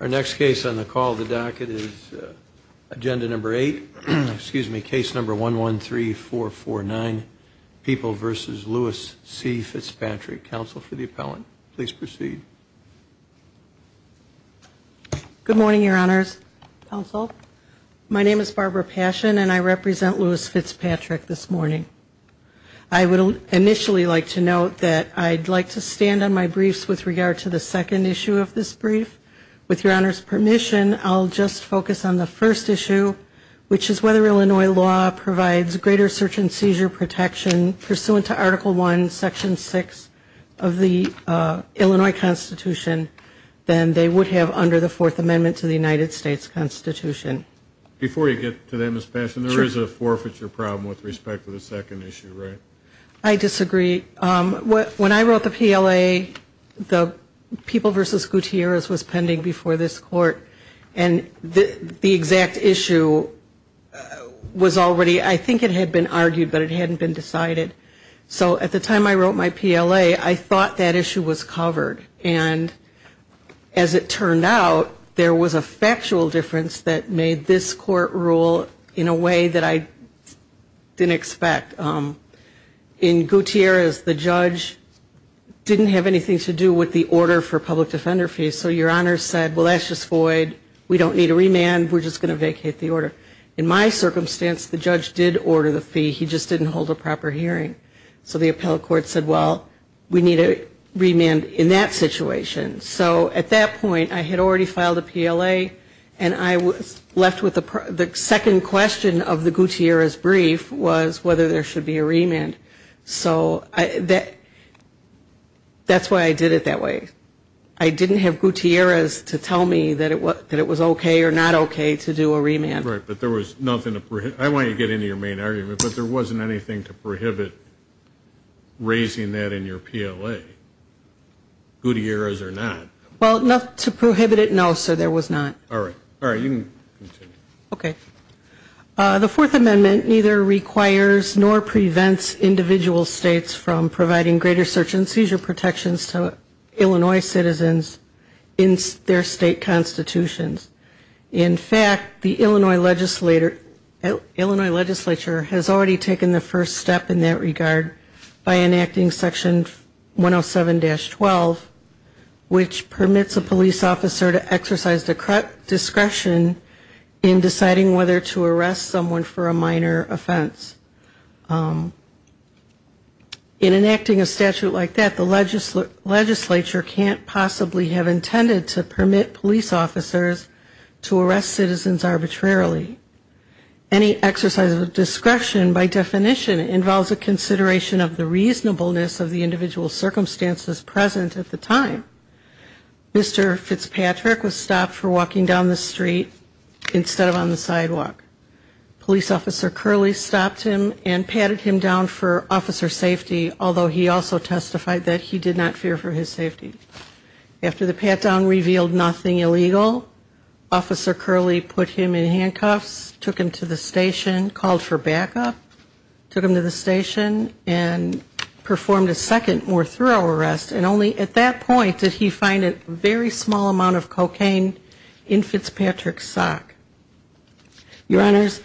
Our next case on the call of the docket is agenda number eight, excuse me, case number 113449, People v. Lewis C. Fitzpatrick. Counsel for the appellant, please proceed. Good morning, your honors, counsel. My name is Barbara Passion, and I represent Lewis Fitzpatrick this morning. I would initially like to note that I'd like to stand on my briefs with regard to the second issue of this briefing. With your honors' permission, I'll just focus on the first issue, which is whether Illinois law provides greater search and seizure protection pursuant to Article I, Section 6 of the Illinois Constitution than they would have under the Fourth Amendment to the United States Constitution. Before you get to that, Ms. Passion, there is a forfeiture problem with respect to the second issue, right? I disagree. It was pending before this court, and the exact issue was already, I think it had been argued, but it hadn't been decided. So at the time I wrote my PLA, I thought that issue was covered. And as it turned out, there was a factual difference that made this court rule in a way that I didn't expect. In Gutierrez, the judge didn't have anything to do with the order for public defender fees. So your honors said, well, that's just void, we don't need a remand, we're just going to vacate the order. In my circumstance, the judge did order the fee, he just didn't hold a proper hearing. So the appellate court said, well, we need a remand in that situation. So at that point, I had already filed a PLA, and I was left with the second question of the Gutierrez brief was whether there should be a remand. So that's why I did it that way. I didn't have Gutierrez to tell me that it was okay or not okay to do a remand. Right, but there was nothing to prohibit, I want to get into your main argument, but there wasn't anything to prohibit raising that in your PLA. Gutierrez or not? Well, to prohibit it, no, sir, there was not. All right, you can continue. Okay, the Fourth Amendment neither requires nor prevents individual states from providing greater search and seizure protections to Illinois citizens in their state constitutions. In fact, the Illinois legislature has already taken the first step in that regard by enacting section 107-12, which permits a police officer to exercise the right to use a firearm. It does not require discretion in deciding whether to arrest someone for a minor offense. In enacting a statute like that, the legislature can't possibly have intended to permit police officers to arrest citizens arbitrarily. Any exercise of discretion, by definition, involves a consideration of the reasonableness of the individual circumstances present at the time. Mr. Fitzpatrick was stopped for walking down the street instead of on the sidewalk. Police officer Curley stopped him and patted him down for officer safety, although he also testified that he did not fear for his safety. After the pat-down revealed nothing illegal, officer Curley put him in handcuffs, took him to the station, called for backup, took him to the station, and performed a second more thorough arrest. And only at that point did he find a very small amount of cocaine in Fitzpatrick's sock. Your Honors,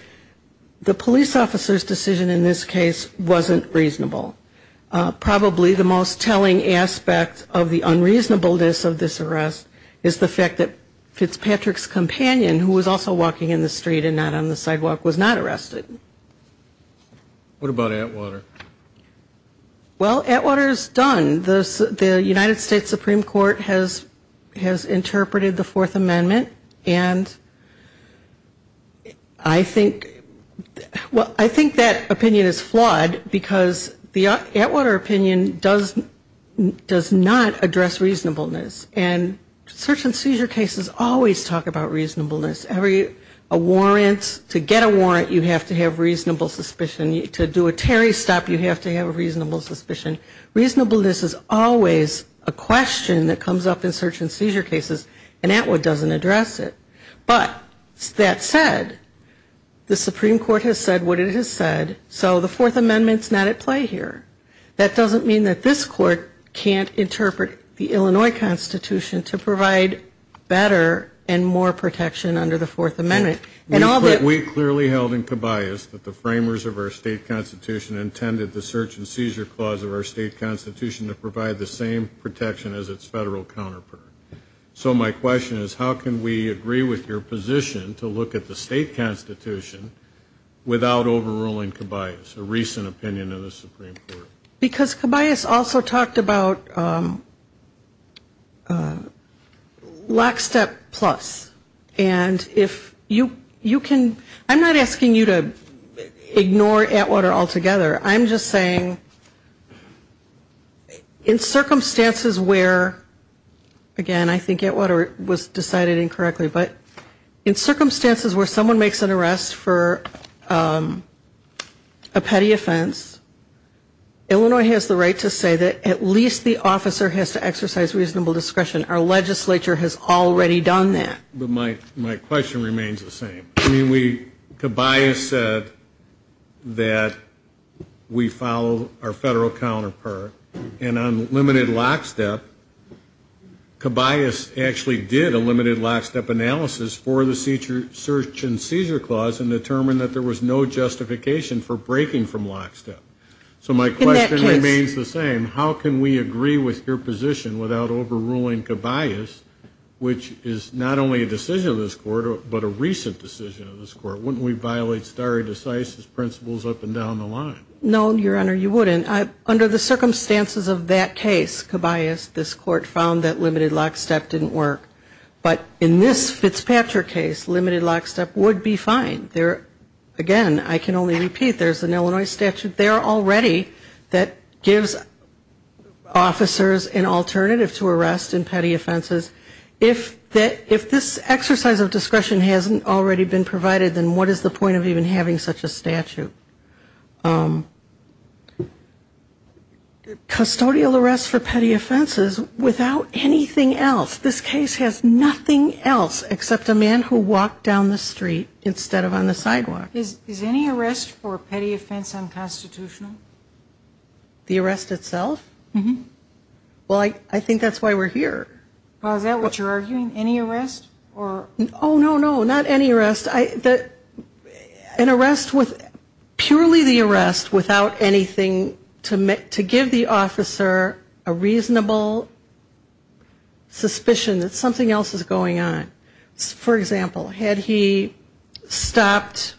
the police officer's decision in this case wasn't reasonable. Probably the most telling aspect of the unreasonableness of this arrest is the fact that Fitzpatrick's companion, who was also walking in the street and not on the sidewalk, was not arrested. What about Atwater? Well, Atwater is done. The United States Supreme Court has interpreted the Fourth Amendment, and I think, well, I think that opinion is flawed, because the Atwater opinion does not address reasonableness. And search and seizure cases always talk about reasonableness. A warrant, to get a warrant you have to have a warrant. You have to have reasonable suspicion. To do a Terry stop, you have to have a reasonable suspicion. Reasonableness is always a question that comes up in search and seizure cases, and Atwater doesn't address it. But that said, the Supreme Court has said what it has said, so the Fourth Amendment's not at play here. That doesn't mean that this Court can't interpret the Illinois Constitution to provide better and more protection under the Fourth Amendment. We clearly held in Cabayas that the framers of our state constitution intended the search and seizure clause of our state constitution to provide the same protection as its federal counterpart. So my question is, how can we agree with your position to look at the state constitution without overruling Cabayas, a recent opinion of the Supreme Court? Because Cabayas also talked about lockstep plus. And if you can, I'm not asking you to ignore Atwater altogether. I'm just saying in circumstances where, again, I think Atwater was decided incorrectly, but in circumstances where someone makes an arrest for a petty offense, Illinois has the right to say that at least the officer has to exercise reasonable discretion. Our legislature has already done that. But my question remains the same. I mean, Cabayas said that we follow our federal counterpart, and on limited lockstep, Cabayas actually did a limited lockstep analysis for the search and seizure clause and determined that there was no justification for breaking from lockstep. So my question remains the same. How can we agree with your position without overruling Cabayas, which is not only a decision of this Court, but a recent decision of this Court? Wouldn't we violate stare decisis principles up and down the line? No, Your Honor, you wouldn't. Under the circumstances of that case, Cabayas, this Court found that limited lockstep didn't work. But in this Fitzpatrick case, limited lockstep would be fine. Again, I can only repeat, there's an Illinois statute there already that gives officers an alternative to arrest in petty offenses. If this exercise of discretion hasn't already been provided, then what is the point of even having such a statute? Custodial arrest for petty offenses without anything else. This case has nothing else except a man who walked down the street instead of on the sidewalk. Is any arrest for a petty offense unconstitutional? The arrest itself? Mm-hmm. Well, I think that's why we're here. Well, is that what you're arguing? Any arrest? Oh, no, no, not any arrest. An arrest with purely the arrest without anything to give the officer a reasonable suspicion that something else is going on. For example, had he stopped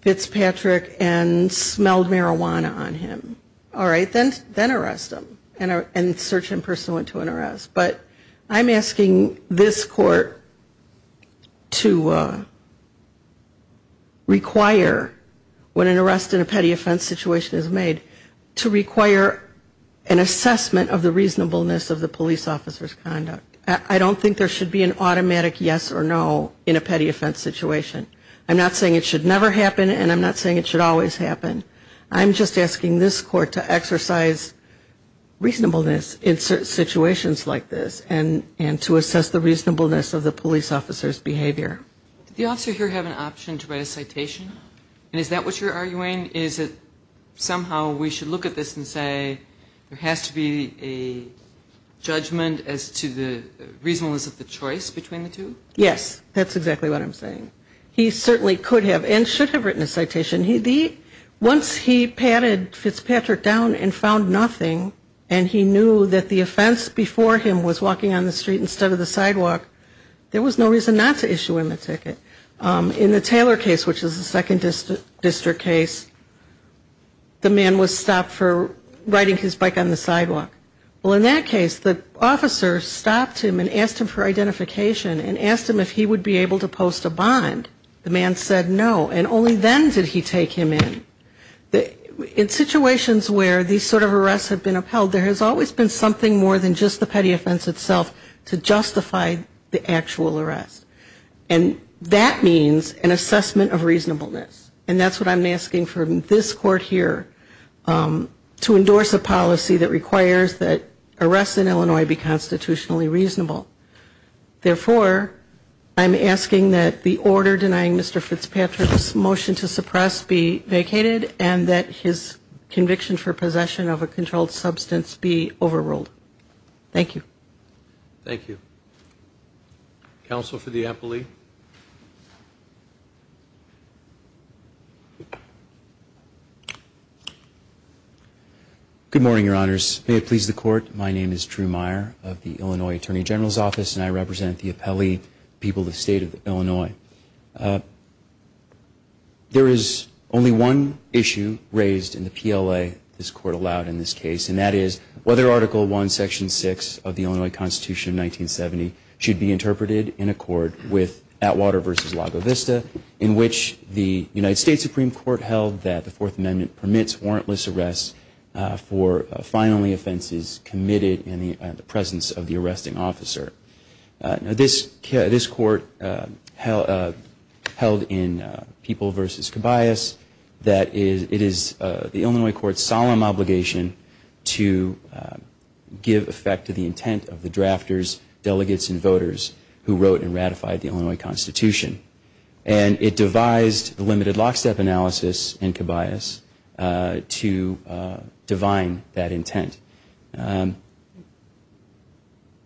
Fitzpatrick and smelled marijuana on him, all right, then arrest him. And search him pursuant to an arrest. But I'm asking this court to require, when an arrest in a petty offense situation is made, to require an assessment of the reasonableness of the police officer's conduct. I don't think there should be an automatic yes or no in a petty offense situation. I'm not saying it should never happen, and I'm not saying it should always happen. I'm just asking this court to exercise reasonableness in certain situations like this and to assess the reasonableness of the police officer's behavior. Did the officer here have an option to write a citation? And is that what you're arguing? Is it somehow we should look at this and say there has to be a judgment as to the reasonableness of the choice between the two? Yes, that's exactly what I'm saying. Once he patted Fitzpatrick down and found nothing and he knew that the offense before him was walking on the street instead of the sidewalk, there was no reason not to issue him a ticket. In the Taylor case, which is a second district case, the man was stopped for riding his bike on the sidewalk. Well, in that case, the officer stopped him and asked him for identification and asked him if he would be able to post a bond. The man said no, and only then did he take him in. In situations where these sort of arrests have been upheld, there has always been something more than just the petty offense itself to justify the actual arrest. And that means an assessment of reasonableness, and that's what I'm asking from this court here to endorse a policy that requires that arrests in Illinois be constitutionally reasonable. Therefore, I'm asking that the order denying Mr. Fitzpatrick's motion to suppress be vacated, and that his conviction for possession of a controlled substance be overruled. Thank you. Counsel for the appellee. Good morning, Your Honors. May it please the Court, my name is Drew Meyer of the Illinois Attorney General's Office, and I represent the appellee people of the State of Illinois. There is only one issue raised in the PLA this Court allowed in this case, and that is whether Article I, Section 6 of the Illinois Code of Procedure, and the Constitution of 1970, should be interpreted in accord with Atwater v. Lago Vista, in which the United States Supreme Court held that the Fourth Amendment permits warrantless arrests for fine-only offenses committed in the presence of the arresting officer. This Court held in People v. Cabayas that it is the Illinois Court's solemn obligation to give effect to the intent of the decision. It is the intent of the decision of drafters, delegates, and voters who wrote and ratified the Illinois Constitution, and it devised the limited lockstep analysis in Cabayas to divine that intent.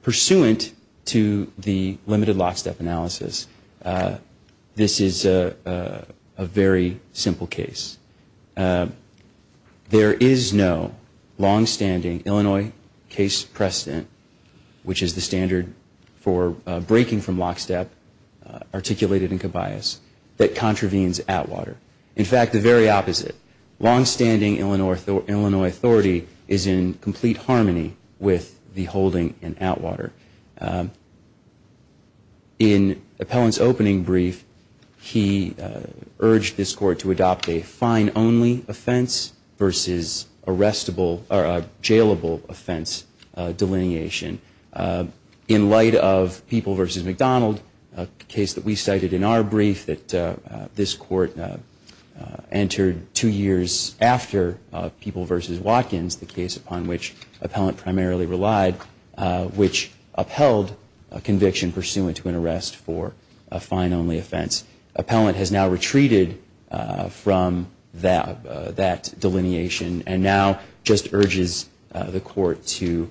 Pursuant to the limited lockstep analysis, this is a very simple case. There is no longstanding Illinois case precedent, which is the standard for breaking from lockstep articulated in Cabayas, that contravenes Atwater. In fact, the very opposite. Longstanding Illinois authority is in complete harmony with the holding in Atwater. In Appellant's opening brief, he urged this Court to adopt a fine-only offense versus a jailable offense delineation. In light of People v. McDonald, a case that we cited in our brief that this Court entered two years after People v. Watkins, the case upon which Appellant primarily relied, which upheld a conviction pursuant to an arrest for a fine-only offense, Appellant has now retreated from that delineation and now just urges the Court to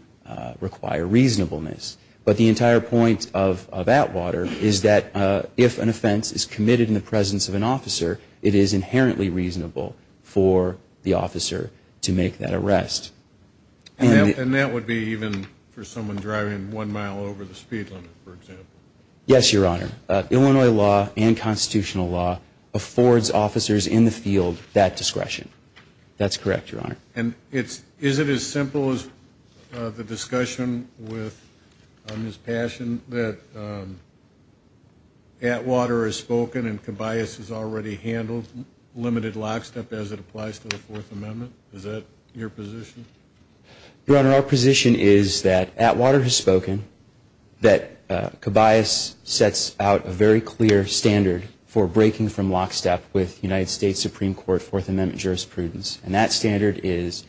require reasonableness. But the entire point of Atwater is that if an offense is committed in the presence of an officer, it is inherently reasonable for the officer to make that arrest. And that would be even for someone driving one mile over the speed limit, for example. Yes, Your Honor. Illinois law and constitutional law affords officers in the field that discretion. That's correct, Your Honor. And is it as simple as the discussion with Ms. Passion that Atwater has spoken and Cabayas has already handled limited lockstep as it applies to the Fourth Amendment? Is that your position? Your Honor, our position is that Atwater has spoken, that Cabayas sets out a very clear standard for breaking from lockstep with United States Supreme Court Fourth Amendment jurisprudence. And that standard is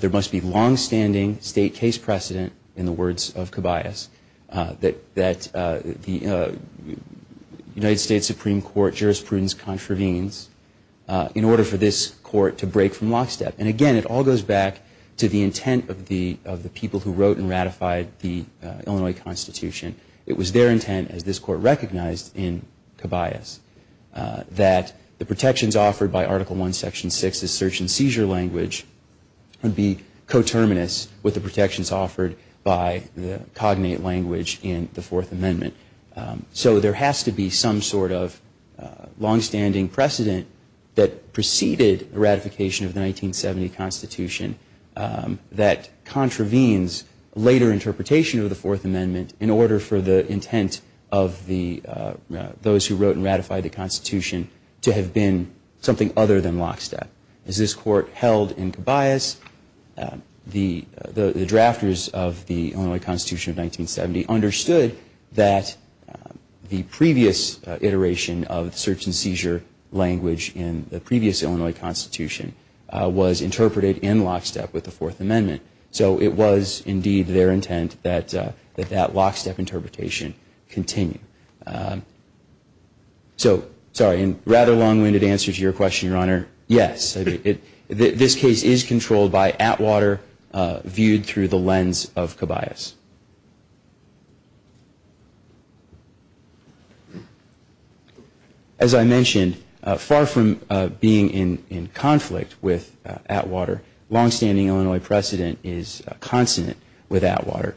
there must be longstanding state case precedent, in the words of Cabayas, that the United States Supreme Court jurisprudence contravenes in order for this Court to break from lockstep. And again, it all goes back to the intent of the people who wrote and ratified the Illinois Constitution. It was their intent, as this Court recognized in Cabayas, that the protections offered by Article I, Section 6, the search and seizure language would be coterminous with the protections offered by the cognate language in the Fourth Amendment. So there has to be some sort of longstanding precedent that preceded the ratification of the 1970 Constitution that contravenes later interpretation of the Fourth Amendment in order for the intent of those who wrote and ratified the Constitution to have been something other than lockstep. As this Court held in Cabayas, the drafters of the Illinois Constitution of 1970 understood that the previous iteration of the search and seizure language in the previous Illinois Constitution was interpreted in lockstep with the Fourth Amendment. So it was indeed their intent that that lockstep interpretation continue. So, sorry, in rather long-winded answer to your question, Your Honor, yes. This case is controlled by Atwater, viewed through the lens of Cabayas. As I mentioned, far from being in conflict with Atwater, longstanding Illinois precedent is consonant with Atwater.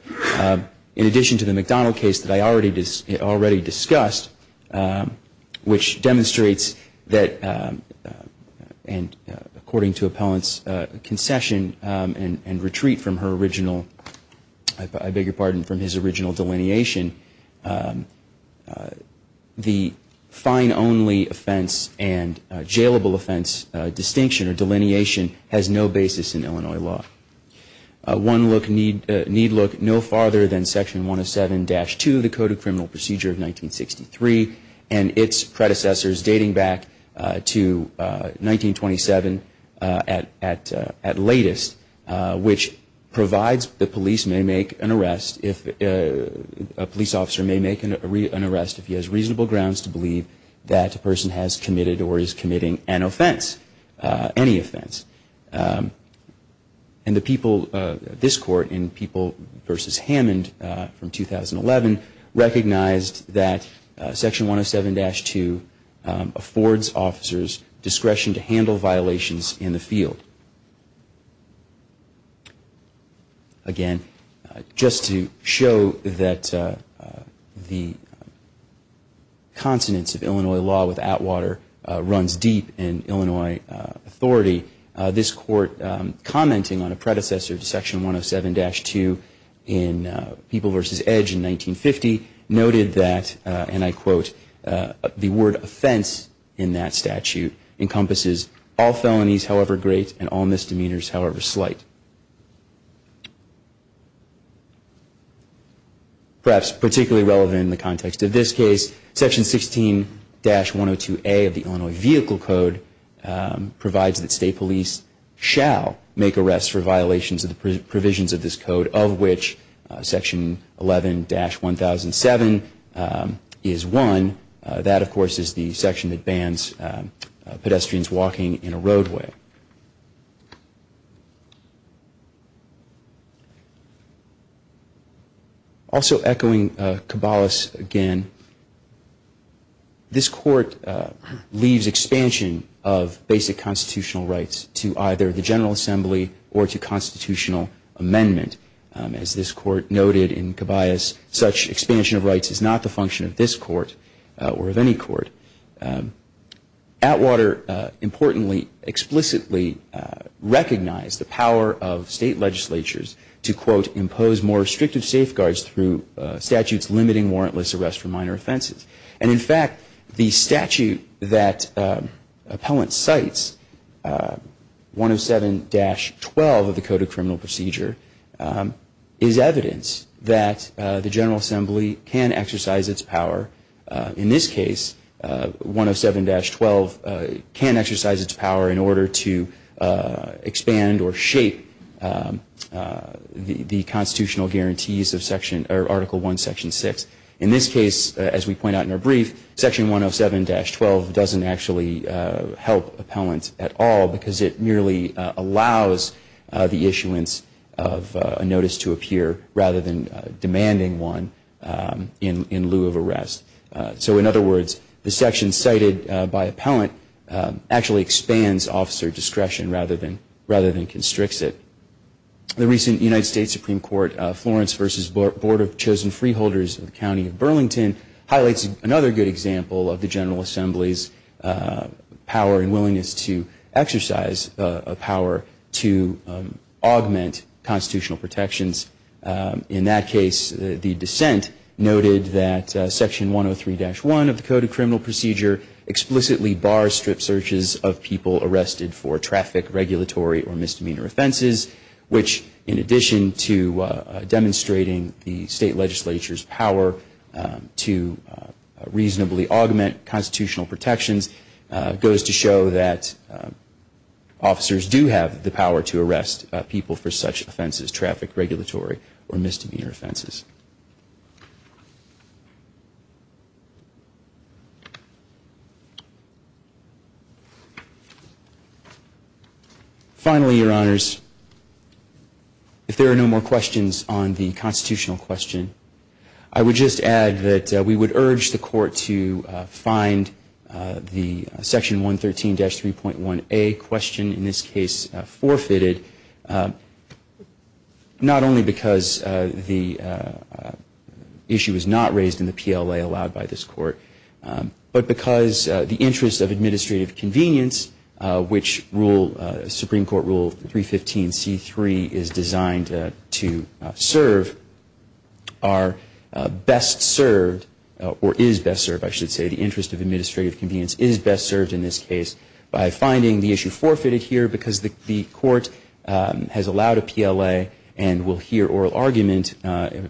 In addition to the McDonald case that I already discussed, which demonstrates that, and according to Appellant's concession and retreat from her original, I beg your pardon, from his original delineation, the fine only offense and jailable offense distinction or delineation has no basis in Illinois law. One look, need look no farther than Section 107-2, the Code of Criminal Procedure of 1963 and its predecessors dating back to 1927 at latest, which provides the police may make an arrest, a police officer may make an arrest if he has reasonable grounds to believe that a person has committed or is committing an offense, any offense. And the people, this Court in People v. Hammond from 2011 recognized that Section 107-2 affords officers discretion to handle violations in the field. Again, just to show that the consonance of Illinois law with Atwater runs deep in Illinois authority, this Court commenting on a predecessor to Section 107-2 in People v. Edge in 1950 noted that, and I quote, the word offense in that statute encompasses all felonies however great and all misdemeanors however slight. Perhaps particularly relevant in the context of this case, Section 16-102A of the Illinois Vehicle Code provides that state police shall make arrests for violations of the provisions of this Code, of which Section 11-1007 is one. That, of course, is the section that bans pedestrians walking in a roadway. Also echoing Caballas again, this Court leaves expansion of basic constitutional rights to either the General Assembly or to constitutional amendment. As this Court noted in Caballas, such expansion of rights is not the function of this Court or of any court. Atwater, importantly, explicitly recognized the power of state legislatures to, quote, impose more restrictive safeguards through statutes limiting warrantless arrests for minor offenses. And in fact, the statute that Appellant cites, 107-12 of the Code of Criminal Procedure, is evidence that the General Assembly can exercise its power. In this case, 107-12 can exercise its power in order to expand or shape the constitutional guarantees of Article I, Section 6. In this case, as we point out in our brief, Section 107-12 doesn't actually help Appellant at all because it merely allows the issuance of a notice to appear rather than demanding one in lieu of arrest. So in other words, the section cited by Appellant actually expands officer discretion rather than constricts it. The recent United States Supreme Court Florence v. Board of Chosen Freeholders of the County of Burlington highlights another good example of the General Assembly's power and willingness to exercise its power to augment constitutional protections. In that case, the dissent noted that Section 103-1 of the Code of Criminal Procedure explicitly bars strip searches of people arrested for traffic, regulatory, or misdemeanor offenses, which, in addition to demonstrating the state legislature's power to reasonably augment constitutional protections, goes to show that officers do have the power to arrest people for such offenses, traffic, regulatory, or misdemeanor offenses. Finally, Your Honors, if there are no more questions on the constitutional question, I would just add that we would urge the Court to find the Section 113-3.1a question in this case forfeited, not only because the issue was not raised in the PLA allowed by this Court, but because the interest of administrative convenience, which Supreme Court Rule 315C3 is designed to serve, are best served, or is best served, I should say, the interest of administrative convenience is best served in this case by finding the issue forfeited here because the Court has allowed a PLA and will hear oral argument,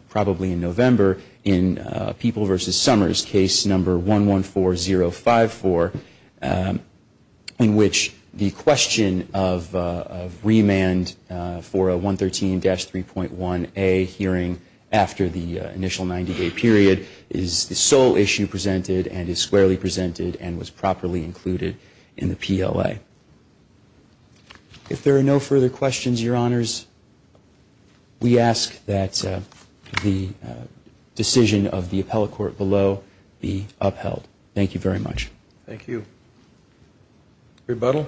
probably in November, in People v. Summers, Case 114054, in which the question of remand for a 113-3.1a hearing in the initial 90-day period is the sole issue presented and is squarely presented and was properly included in the PLA. If there are no further questions, Your Honors, we ask that the decision of the Appellate Court below be upheld. Thank you very much. Thank you. Rebuttal?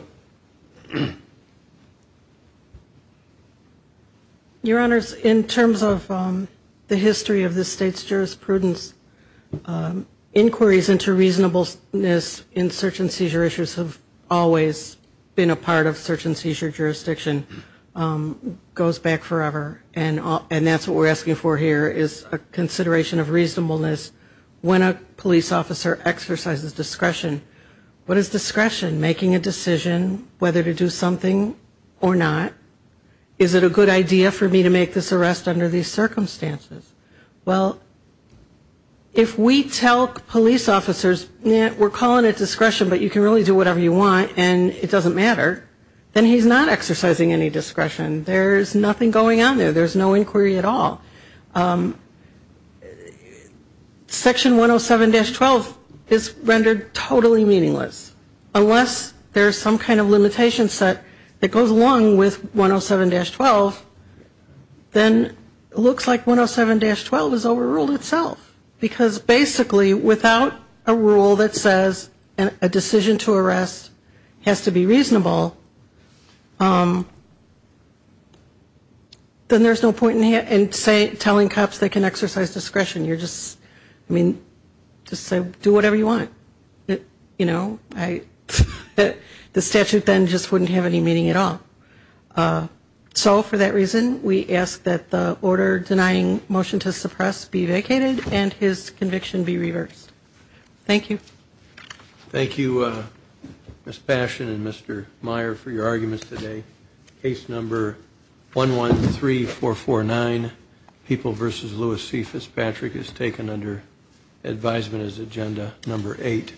Your Honors, in terms of the history of this State's jurisprudence, inquiries into reasonableness in search and seizure issues have always been a part of search and seizure jurisdiction, goes back forever, and that's what we're asking for here is a consideration of reasonableness. When a police officer exercises discretion, what is discretion? Making a decision whether to do something or not? Is it a good idea for me to make this arrest under these circumstances? Well, if we tell police officers, we're calling it discretion, but you can really do whatever you want, and it doesn't matter, then he's not exercising any discretion. There's nothing going on there. There's no inquiry at all. Section 107-12 is rendered totally meaningless unless there's some kind of limitation set that goes along with 107-12, then it looks like 107-12 is overruled itself, because basically without a rule that says a decision to arrest has to be reasonable, then there's no point in telling cops they can exercise discretion. I mean, just do whatever you want. The statute then just wouldn't have any meaning at all. So for that reason, we ask that the order denying motion to suppress be vacated and his conviction be reversed. Thank you. Thank you, Ms. Passion and Mr. Meyer, for your arguments today. Case number 113449, People v. Louis C. Fitzpatrick, is taken under advisement as agenda number 8.